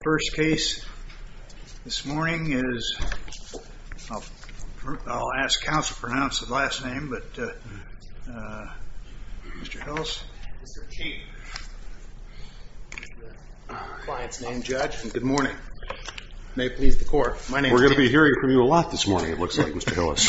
First case this morning is, I'll ask counsel to pronounce his last name, but Mr. Hillis. Mr. Cheek, client's name, judge, and good morning. May it please the court, my name is David Cheek. We're going to be hearing from you a lot this morning, it looks like, Mr. Hillis.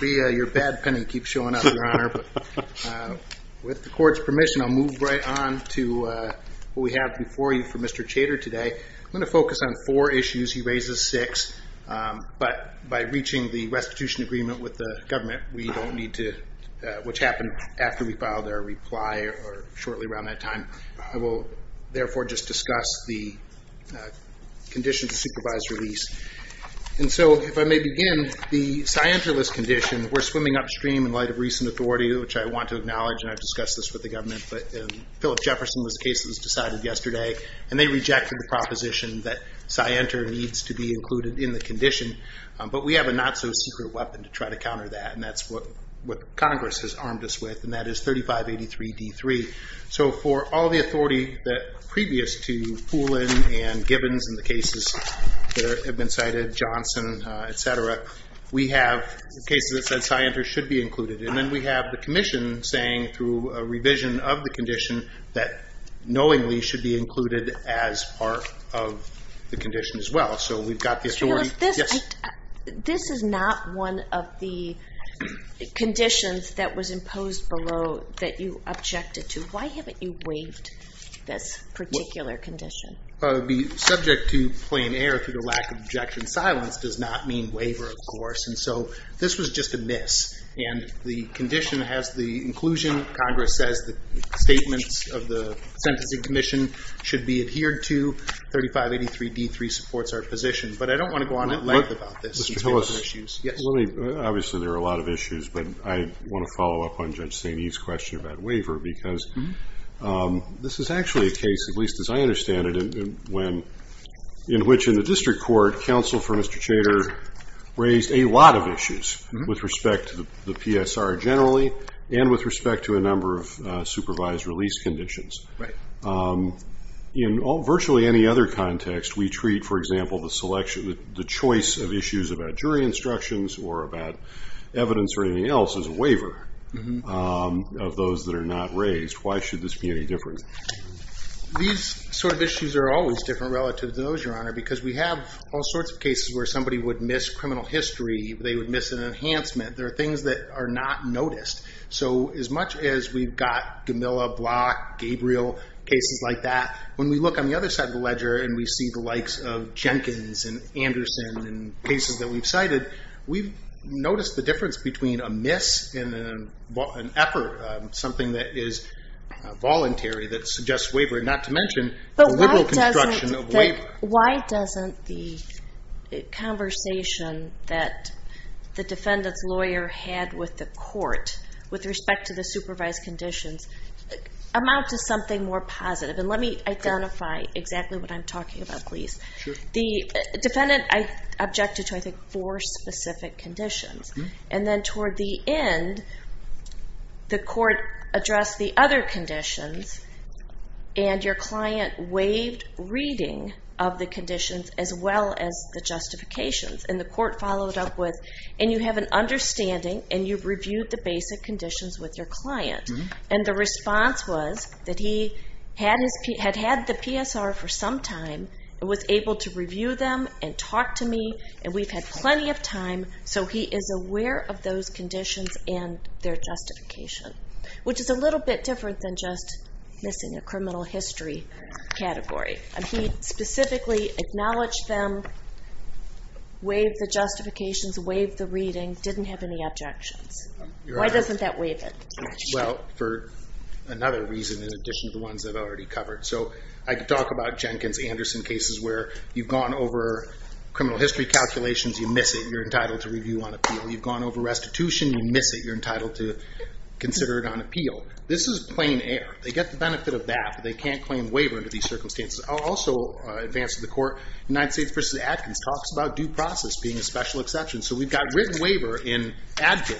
Well, your bad pen keeps showing up, your honor, but with the court's permission, I'll move right on to what we have before you for Mr. Cheek. Mr. Tjader today, I'm going to focus on four issues, he raises six, but by reaching the restitution agreement with the government, we don't need to, which happened after we filed our reply or shortly around that time, I will therefore just discuss the condition to supervise release. And so, if I may begin, the Scientolis condition, we're swimming upstream in light of recent authority, which I want to acknowledge, and I've discussed this with the government, but Philip Jefferson was the case that was decided yesterday, and they rejected the proposition that Scienter needs to be included in the condition, but we have a not so secret weapon to try to counter that, and that's what Congress has armed us with, and that is 3583 D3. So, for all the authority that previous to Poulin and Gibbons and the cases that have been cited, Johnson, etc., we have cases that said Scienter should be included, and then we have the commission saying through a revision of the condition that knowingly should be included as part of the condition as well. So, we've got the authority, yes? This is not one of the conditions that was imposed below that you objected to. Why haven't you waived this particular condition? The subject to plain air through the lack of objection silence does not mean waiver, of course, and so this was just a miss, and the condition has the inclusion, Congress says the statements of the Sentencing Commission should be adhered to, 3583 D3 supports our position, but I don't want to go on and on about this. Mr. Hillis, obviously there are a lot of issues, but I want to follow up on Judge St. E's question about waiver, because this is actually a case, at least as I understand it, in which in the district court, counsel for Mr. Chater raised a lot of issues with respect to the PSR generally, and with respect to a number of supervised release conditions. In virtually any other context, we treat, for example, the choice of issues about jury instructions or about evidence or anything else as a waiver of those that are not raised. Why should this be any different? These sort of issues are always different relative to those, Your Honor, because we have all sorts of cases where somebody would miss criminal history, they would miss an enhancement, there are things that are not noticed. So as much as we've got Gamilla, Block, Gabriel, cases like that, when we look on the other side of the ledger, and we see the likes of Jenkins and Anderson and cases that we've cited, we've noticed the difference between a miss and an effort, something that is voluntary that suggests waivering, not to mention the liberal construction of waiver. But why doesn't the conversation that the defendant's lawyer had with the court with respect to the supervised conditions amount to something more positive? And let me identify exactly what I'm talking about, please. The defendant objected to, I think, four specific conditions. And then toward the end, the court addressed the other conditions and your client waived reading of the conditions as well as the justifications. And the court followed up with, and you have an understanding and you've reviewed the basic conditions with your client. And the response was that he had had the PSR for some time and was able to review them and talk to me. And we've had plenty of time. So he is aware of those conditions and their justification, which is a little bit different than just missing a criminal history category. And he specifically acknowledged them, waived the justifications, waived the reading, didn't have any objections. Why doesn't that waive it? Well, for another reason in addition to the ones I've already covered. So I could talk about Jenkins-Anderson cases where you've gone over criminal history calculations, you miss it, you're entitled to review on appeal. You've gone over restitution, you miss it, you're entitled to consider it on appeal. This is plain air. They get the benefit of that, but they can't claim waiver under these circumstances. I'll also advance to the court, United States v. Adkins talks about due process being a special exception. So we've got written waiver in past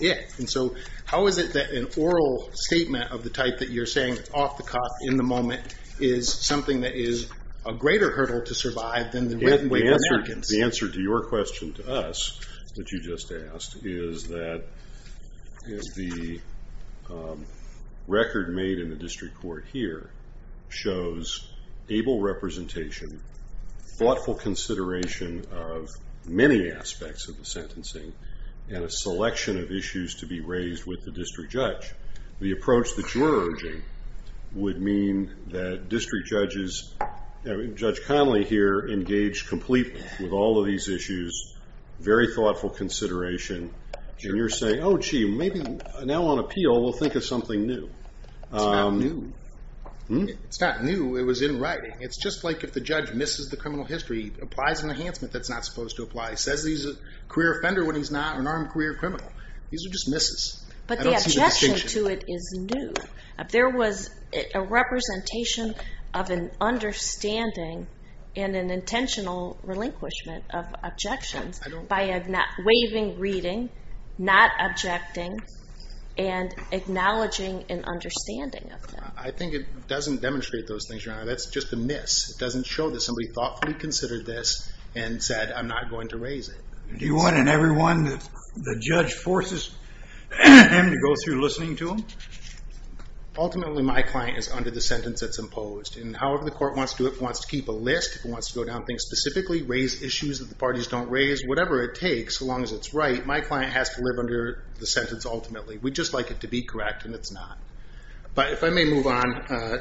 it. And so how is it that an oral statement of the type that you're saying is off the cuff in the moment is something that is a greater hurdle to survive than the written waiver of Adkins? The answer to your question to us, that you just asked, is that the record made in the district court here shows able representation, thoughtful consideration of many aspects of the sentencing, and a selection of issues to be raised with the district judge. The approach that you're urging would mean that district judges, Judge Connolly here, engaged completely with all of these issues, very thoughtful consideration, and you're saying, oh gee, maybe now on appeal we'll think of something new. It's not new, it was in writing. It's just like if the judge misses the criminal history, he applies an enhancement that's not supposed to apply. He says he's a career offender when he's not an armed career criminal. These are just misses. But the objection to it is new. There was a representation of an understanding and an intentional relinquishment of objections by waiving reading, not objecting, and acknowledging an understanding of that. I think it doesn't demonstrate those things, Your Honor. That's just a miss. It doesn't show that somebody thoughtfully considered this and said, I'm not going to raise it. Do you want everyone, the judge forces to go through listening to him? Ultimately, my client is under the sentence that's imposed. However the court wants to do it, if it wants to keep a list, if it wants to go down things specifically, raise issues that the parties don't raise, whatever it takes, so long as it's right, my client has to live under the sentence ultimately. We just like it to be correct, and it's not. If I may move on.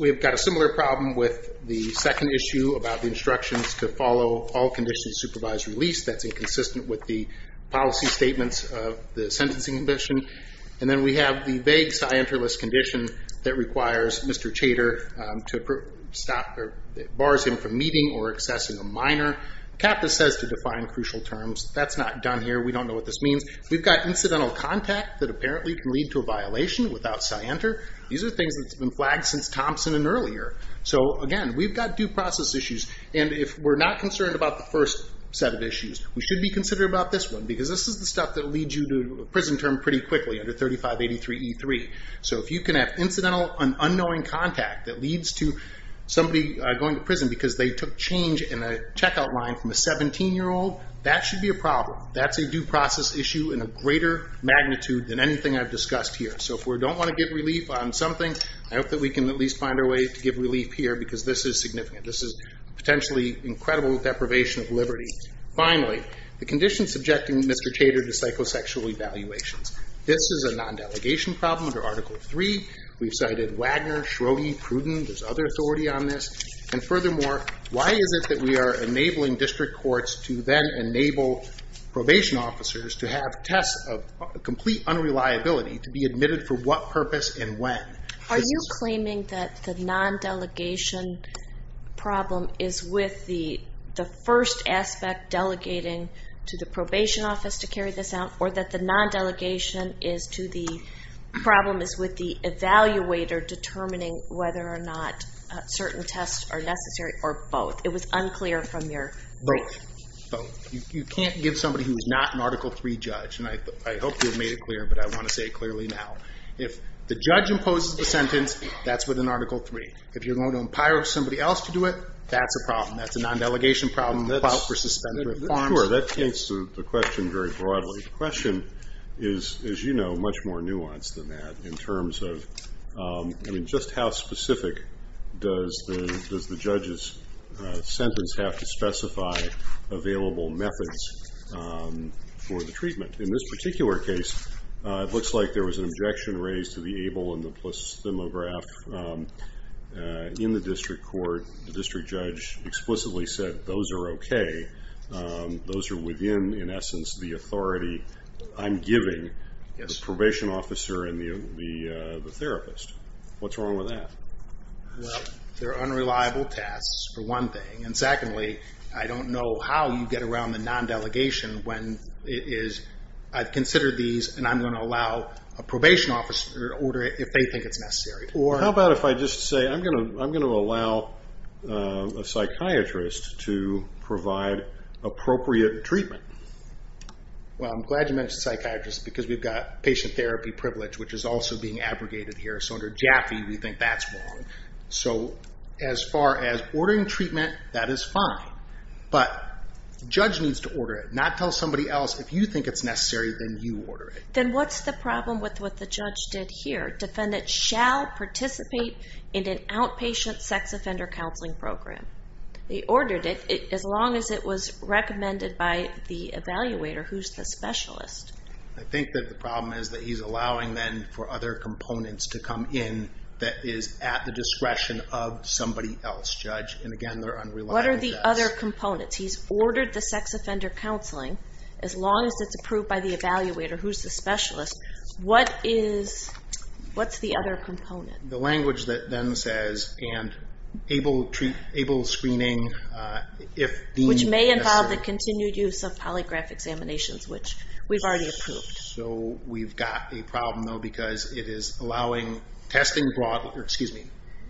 We've got a similar problem with the second issue about the instructions to follow all conditions to supervise release that's inconsistent with the policy statements of the sentencing condition. And then we have the vague scienter-less condition that requires Mr. Chater to bar him from meeting or accessing a minor. CAPTA says to define crucial terms. That's not done here. We don't know what this means. We've got incidental contact that apparently can lead to a violation without scienter. These are things that have been flagged since Thompson and earlier. Again, we've got due process issues, and if we're not concerned about the first set of issues, we should be concerned about this one, because this is the stuff that leads you to a prison term pretty quickly under 3583E3. If you can have incidental and unknowing contact that leads to somebody going to prison because they took change in a checkout line from a 17-year-old, that should be a problem. That's a due process issue in a greater magnitude than anything I've discussed here. So if we don't want to give relief on something, I hope that we can at least find a way to give relief here, because this is significant. This is potentially incredible deprivation of liberty. Finally, the condition subjecting Mr. Chater to psychosexual evaluations. This is a non-delegation problem under Article III. We've cited Wagner, Schrodinger, Pruden. There's other authority on this. And furthermore, why is it that we are enabling district courts to then enable probation officers to have tests of complete unreliability to be admitted for what purpose and when? Are you claiming that the non-delegation problem is with the first aspect, delegating to the probation office to carry this out, or that the non-delegation problem is with the evaluator determining whether or not certain tests are necessary or both? It was unclear from your point of view. Both. You can't give somebody who's not an Article III judge, and I hope you've made it clear, but I want to say it clearly now. If the judge imposes the sentence, that's within Article III. If you're going to empire somebody else to do it, that's a problem. That's a non-delegation problem, the plow for suspended reforms. Sure, that takes the question very broadly. The question is, as you know, much more nuanced than that in terms of, I mean, just how specific does the judge's sentence have to specify available methods for the treatment? In this particular case, it looks like there was an objection raised to the ABLE and the PLOS demograph. In the district court, the district judge explicitly said, those are okay. Those are within, in essence, the authority I'm giving the probation officer and the therapist. What's wrong with that? Well, they're unreliable tests, for one thing. And secondly, I don't know how you get around the non-delegation when it is, I've considered these and I'm going to allow a probation officer to order it if they think it's necessary. How about if I just say, I'm going to allow a psychiatrist to provide appropriate treatment? Well, I'm glad you mentioned psychiatrists because we've got patient therapy privilege, which is also being abrogated here. So under Jaffe, we think that's wrong. So as far as ordering treatment, that is fine. But judge needs to order it, not tell somebody else, if you think it's necessary, then you order it. Then what's the problem with what the judge did here? Defendant shall participate in an outpatient sex offender counseling program. They ordered it as long as it was recommended by the evaluator, who's the specialist. I think that the problem is that he's allowing then for other components to come in that is at the discretion of somebody else, judge. And again, they're unreliable tests. What are the other components? He's ordered the sex offender counseling as long as it's approved by the evaluator, who's the specialist. What's the other component? The language that then says, and able screening if deemed necessary. Which may involve the continued use of polygraph examinations, which we've already approved. So we've got a problem, though, because it is allowing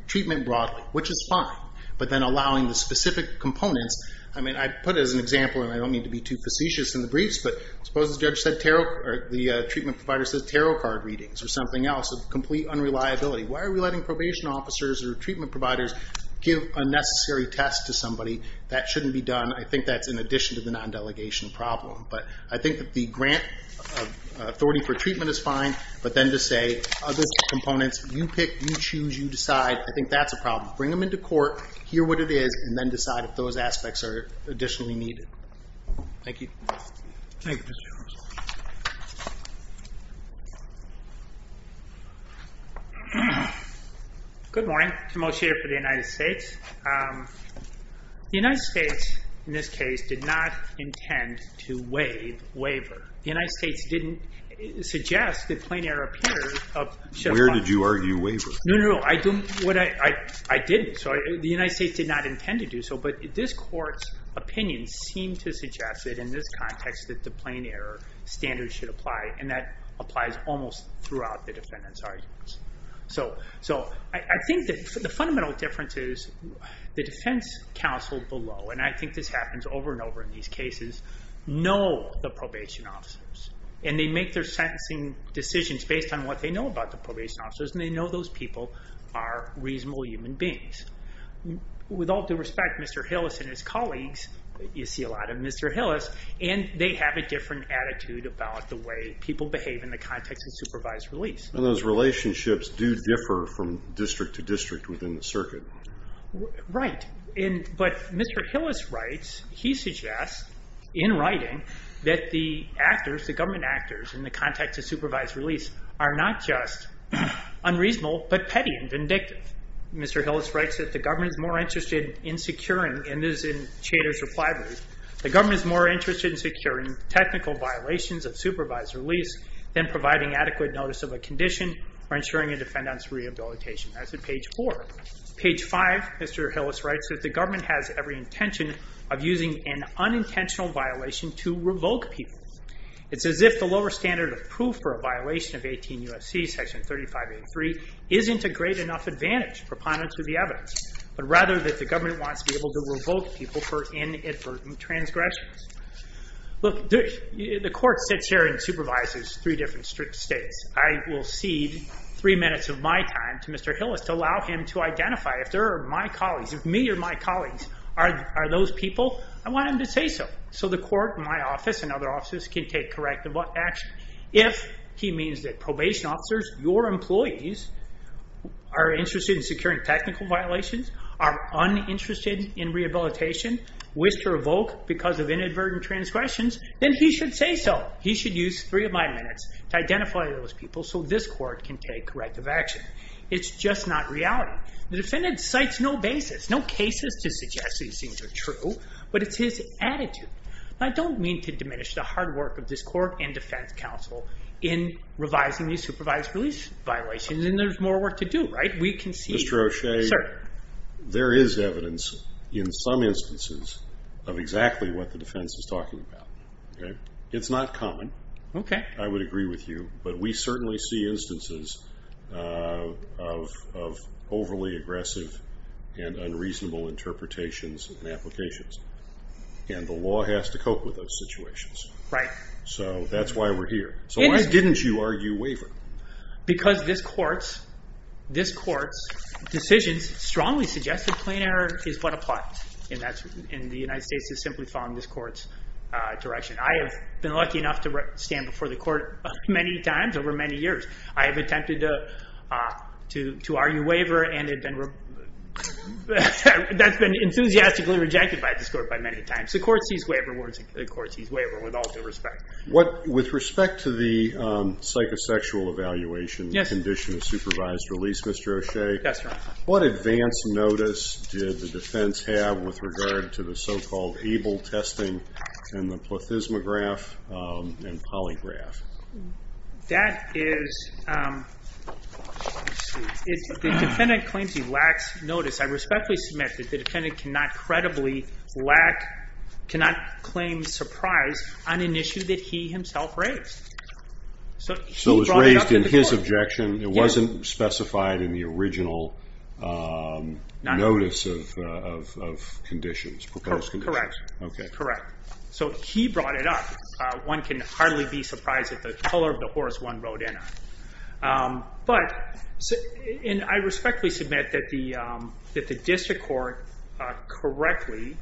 treatment broadly, which is fine. But then allowing the specific components. I mean, I put it as an example, and I don't mean to be too facetious in the briefs, but suppose the treatment provider says tarot card readings or something else of complete unreliability. Why are we letting probation officers or treatment providers give unnecessary tests to somebody? That shouldn't be done. I think that's in addition to the non-delegation problem. But I think that the grant authority for treatment is fine. But then to say, other components, you pick, you choose, you decide. I think that's a problem. Bring them into court, hear what it is, and then decide if those aspects are additionally needed. Thank you. Thank you, Mr. Charles. Good morning. Tim O'Shea for the United States. The United States, in this case, did not intend to waive waiver. The United States didn't suggest that plein air appears. Where did you argue waiver? No, no, no. I didn't. The United States did not intend to do so. But this court's opinion seemed to suggest that in this context that the plein air standard should apply, and that applies almost throughout the defendant's arguments. So I think that the fundamental difference is the defense counsel below, and I think this happens over and over in these cases, know the probation officers. And they make their sentencing decisions based on what they know about the probation officers, and they know those people are reasonable human beings. With all due respect, Mr. Hillis and his colleagues, you see a lot of Mr. Hillis, and they have a different attitude about the way people behave in the context of supervised release. And those relationships do differ from district to district within the circuit. Right. But Mr. Hillis writes, he suggests, in writing, that the actors, the government actors, in the context of supervised release are not just unreasonable, but petty and vindictive. Mr. Hillis writes that the government is more interested in securing, and this is in Chater's reply brief, the government is more interested in securing technical violations of supervised release than providing adequate notice of a condition or ensuring a defendant's rehabilitation. That's at page four. Page five, Mr. Hillis writes that the government has every intention of using an unintentional violation to revoke people. It's as if the lower standard of proof for a violation of 18 U.S.C. section 3583 isn't a great enough advantage proponent to the evidence, but rather that the government wants to be able to revoke people for inadvertent transgressions. Look, the court sits here and supervises three different states. I will cede three minutes of my time to Mr. Hillis to allow him to identify, if there are my colleagues, if me or my colleagues are those people, I want him to say so. So the court, my office, and other offices can take corrective action. If he means that probation officers, your employees, are interested in securing technical violations, are uninterested in rehabilitation, wish to revoke because of inadvertent transgressions, then he should say so. He should use three of my minutes to identify those people so this court can take corrective action. It's just not reality. The defendant cites no basis, no cases to suggest these things are true, but it's his attitude. I don't mean to diminish the hard work of this court and defense counsel in revising these supervised release violations, and there's more work to do, right? We can see... Mr. O'Shea, there is evidence in some instances of exactly what the defense is talking about. It's not common. I would agree with you. But we certainly see instances of overly aggressive and unreasonable interpretations and applications, and the law has to cope with those situations. So that's why we're here. So why didn't you argue waiver? Because this court's decisions strongly suggest that plain error is but a plot, and the United States is simply following this court's direction. I have been lucky enough to stand before the court many times over many years. I have attempted to argue waiver, and that's been enthusiastically rejected by this court by many times. The court sees waiver with all due respect. With respect to the psychosexual evaluation condition of supervised release, Mr. O'Shea, what advance notice did the defense have with regard to the so-called ABLE testing and the plethysmograph and polygraph? That is... The defendant claims he lacks notice. I respectfully submit that the defendant cannot claim surprise on an issue that he himself raised. So it was raised in his objection. It wasn't specified in the original notice of conditions, proposed conditions. Correct. Okay. Correct. So he brought it up. One can hardly be surprised at the color of the horse one rode in on. But I respectfully submit that the district court correctly...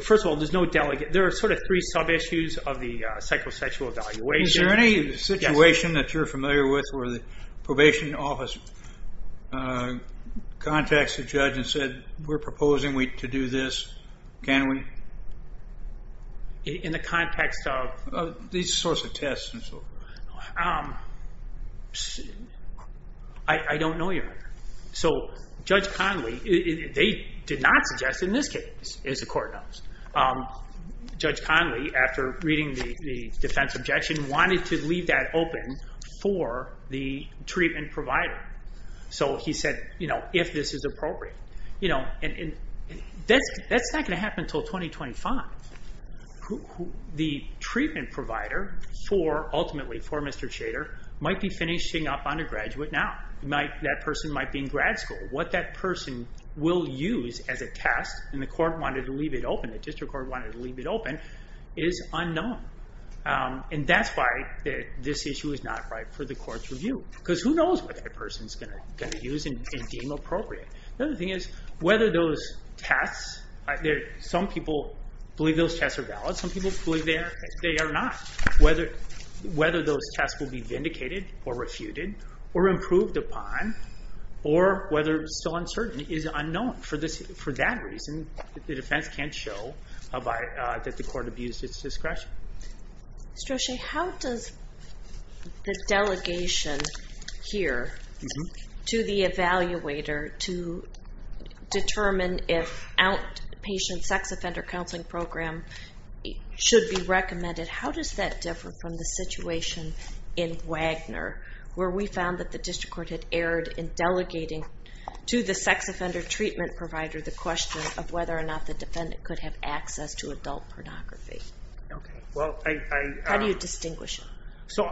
First of all, there are sort of three sub-issues of the psychosexual evaluation. Is there any situation that you're familiar with where the probation office contacts the judge and said, we're proposing to do this, can we? In the context of? These sorts of tests and so forth. I don't know your... So Judge Conley, they did not suggest in this case, as the court knows, Judge Conley, after reading the defense objection, wanted to leave that open for the treatment provider. So he said, if this is appropriate. That's not going to happen until 2025. The treatment provider, ultimately for Mr. Shader, might be finishing up undergraduate now. That person might be in grad school. What that person will use as a test, and the court wanted to leave it open, the district court wanted to leave it open, is unknown. And that's why this issue is not right for the court's review. Because who knows what that person's going to use and deem appropriate. The other thing is, whether those tests... Some people believe those tests are valid. Some people believe they are not. Whether those tests will be vindicated or refuted, or improved upon, or whether it's still uncertain, is unknown. For that reason, the defense can't show that the court abused its discretion. Mr. O'Shea, how does the delegation here to the evaluator to determine if outpatient sex offender counseling program should be recommended, how does that differ from the situation in Wagner, where we found that the district court had erred in delegating to the sex offender treatment provider the question of whether or not the defendant could have access to adult pornography? How do you distinguish it?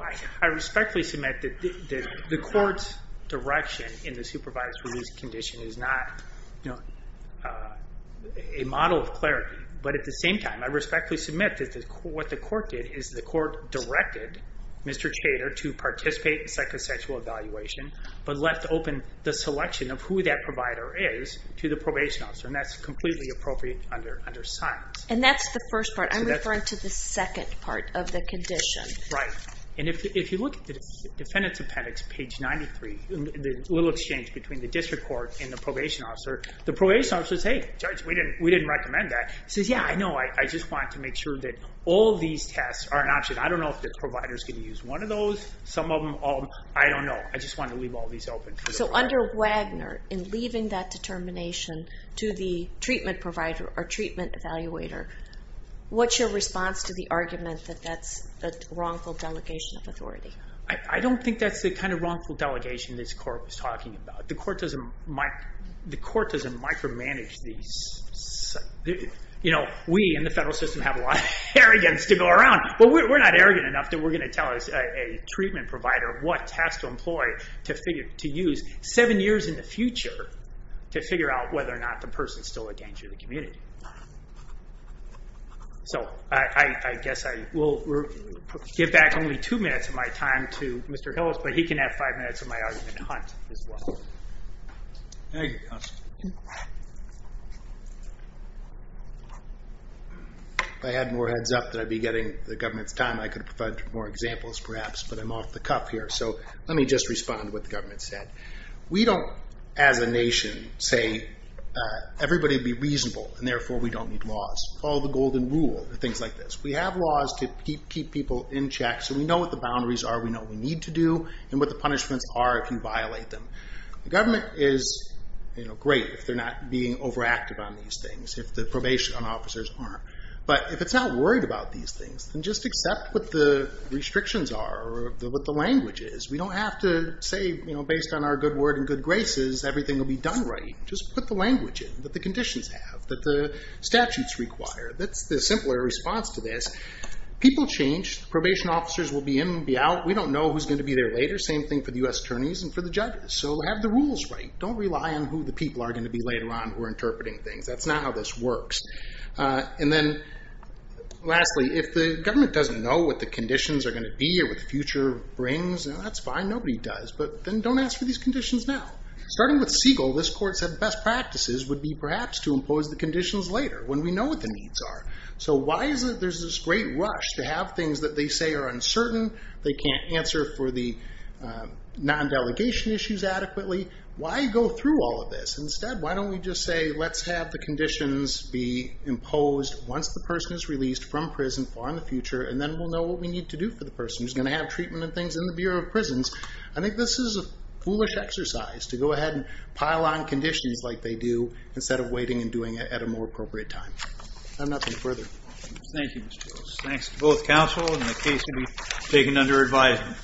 I respectfully submit that the court's direction in the supervised release condition is not a model of clarity. But at the same time, I respectfully submit that what the court did is the court directed Mr. Chater to participate in psychosexual evaluation, but left open the selection of who that provider is to the probation officer. And that's completely appropriate under science. And that's the first part. I'm referring to the second part of the condition. Right. And if you look at the defendant's appendix, page 93, the little exchange between the district court and the probation officer, the probation officer says, hey, judge, we didn't recommend that. He says, yeah, I know, I just want to make sure that all these tests are an option. I don't know if the provider's going to use one of those, some of them, I don't know. I just want to leave all these open. So under Wagner, in leaving that determination to the treatment provider or treatment evaluator, what's your response to the argument that that's a wrongful delegation of authority? I don't think that's the kind of wrongful delegation this court was talking about. The court doesn't micromanage these. We in the federal system have a lot of arrogance to go around, but we're not arrogant enough that we're going to tell a treatment provider what test to employ to use seven years in the future to figure out whether or not the person's still a danger to the community. So I guess I will give back only two minutes of my time to Mr. Hillis, but he can have five minutes of my argument hunt as well. If I had more heads up that I'd be getting the government's time, I could provide more examples perhaps, but I'm off the cuff here. So let me just respond to what the government said. We don't, as a nation, say everybody be reasonable and therefore we don't need laws. Follow the golden rule and things like this. We have laws to keep people in check so we know what the boundaries are, we know what we need to do, and what the punishments are if you violate them. The government is great if they're not being overactive on these things, if the probation officers aren't. But if it's not worried about these things, then just accept what the restrictions are or what the language is. We don't have to say based on our good word and good graces everything will be done right. Just put the language in that the conditions have, that the statutes require. That's the simpler response to this. People change. Probation officers will be in and be out. We don't know who's going to be there later. Same thing for the U.S. attorneys and for the judges. So have the rules right. Don't rely on who the people are going to be later on who are interpreting things. That's not how this works. And then lastly, if the government doesn't know what the conditions are going to be or what the future brings, that's fine. Nobody does. But then don't ask for these conditions now. Starting with Siegel, this court said best practices would be perhaps to impose the conditions later when we know what the needs are. So why is it there's this great rush to have things that they say are uncertain, they can't answer for the non-delegation issues adequately. Why go through all of this? Instead, why don't we just say let's have the conditions be imposed once the person is released from prison for the future and then we'll know what we need to do for the person who's going to have treatment and things in the Bureau of Prisons. I think this is a foolish exercise to go ahead and pile on conditions like they do instead of waiting and doing it at a more appropriate time. I have nothing further. Thank you, Mr. Lewis. Thanks to both counsel and the case will be taken under advisement.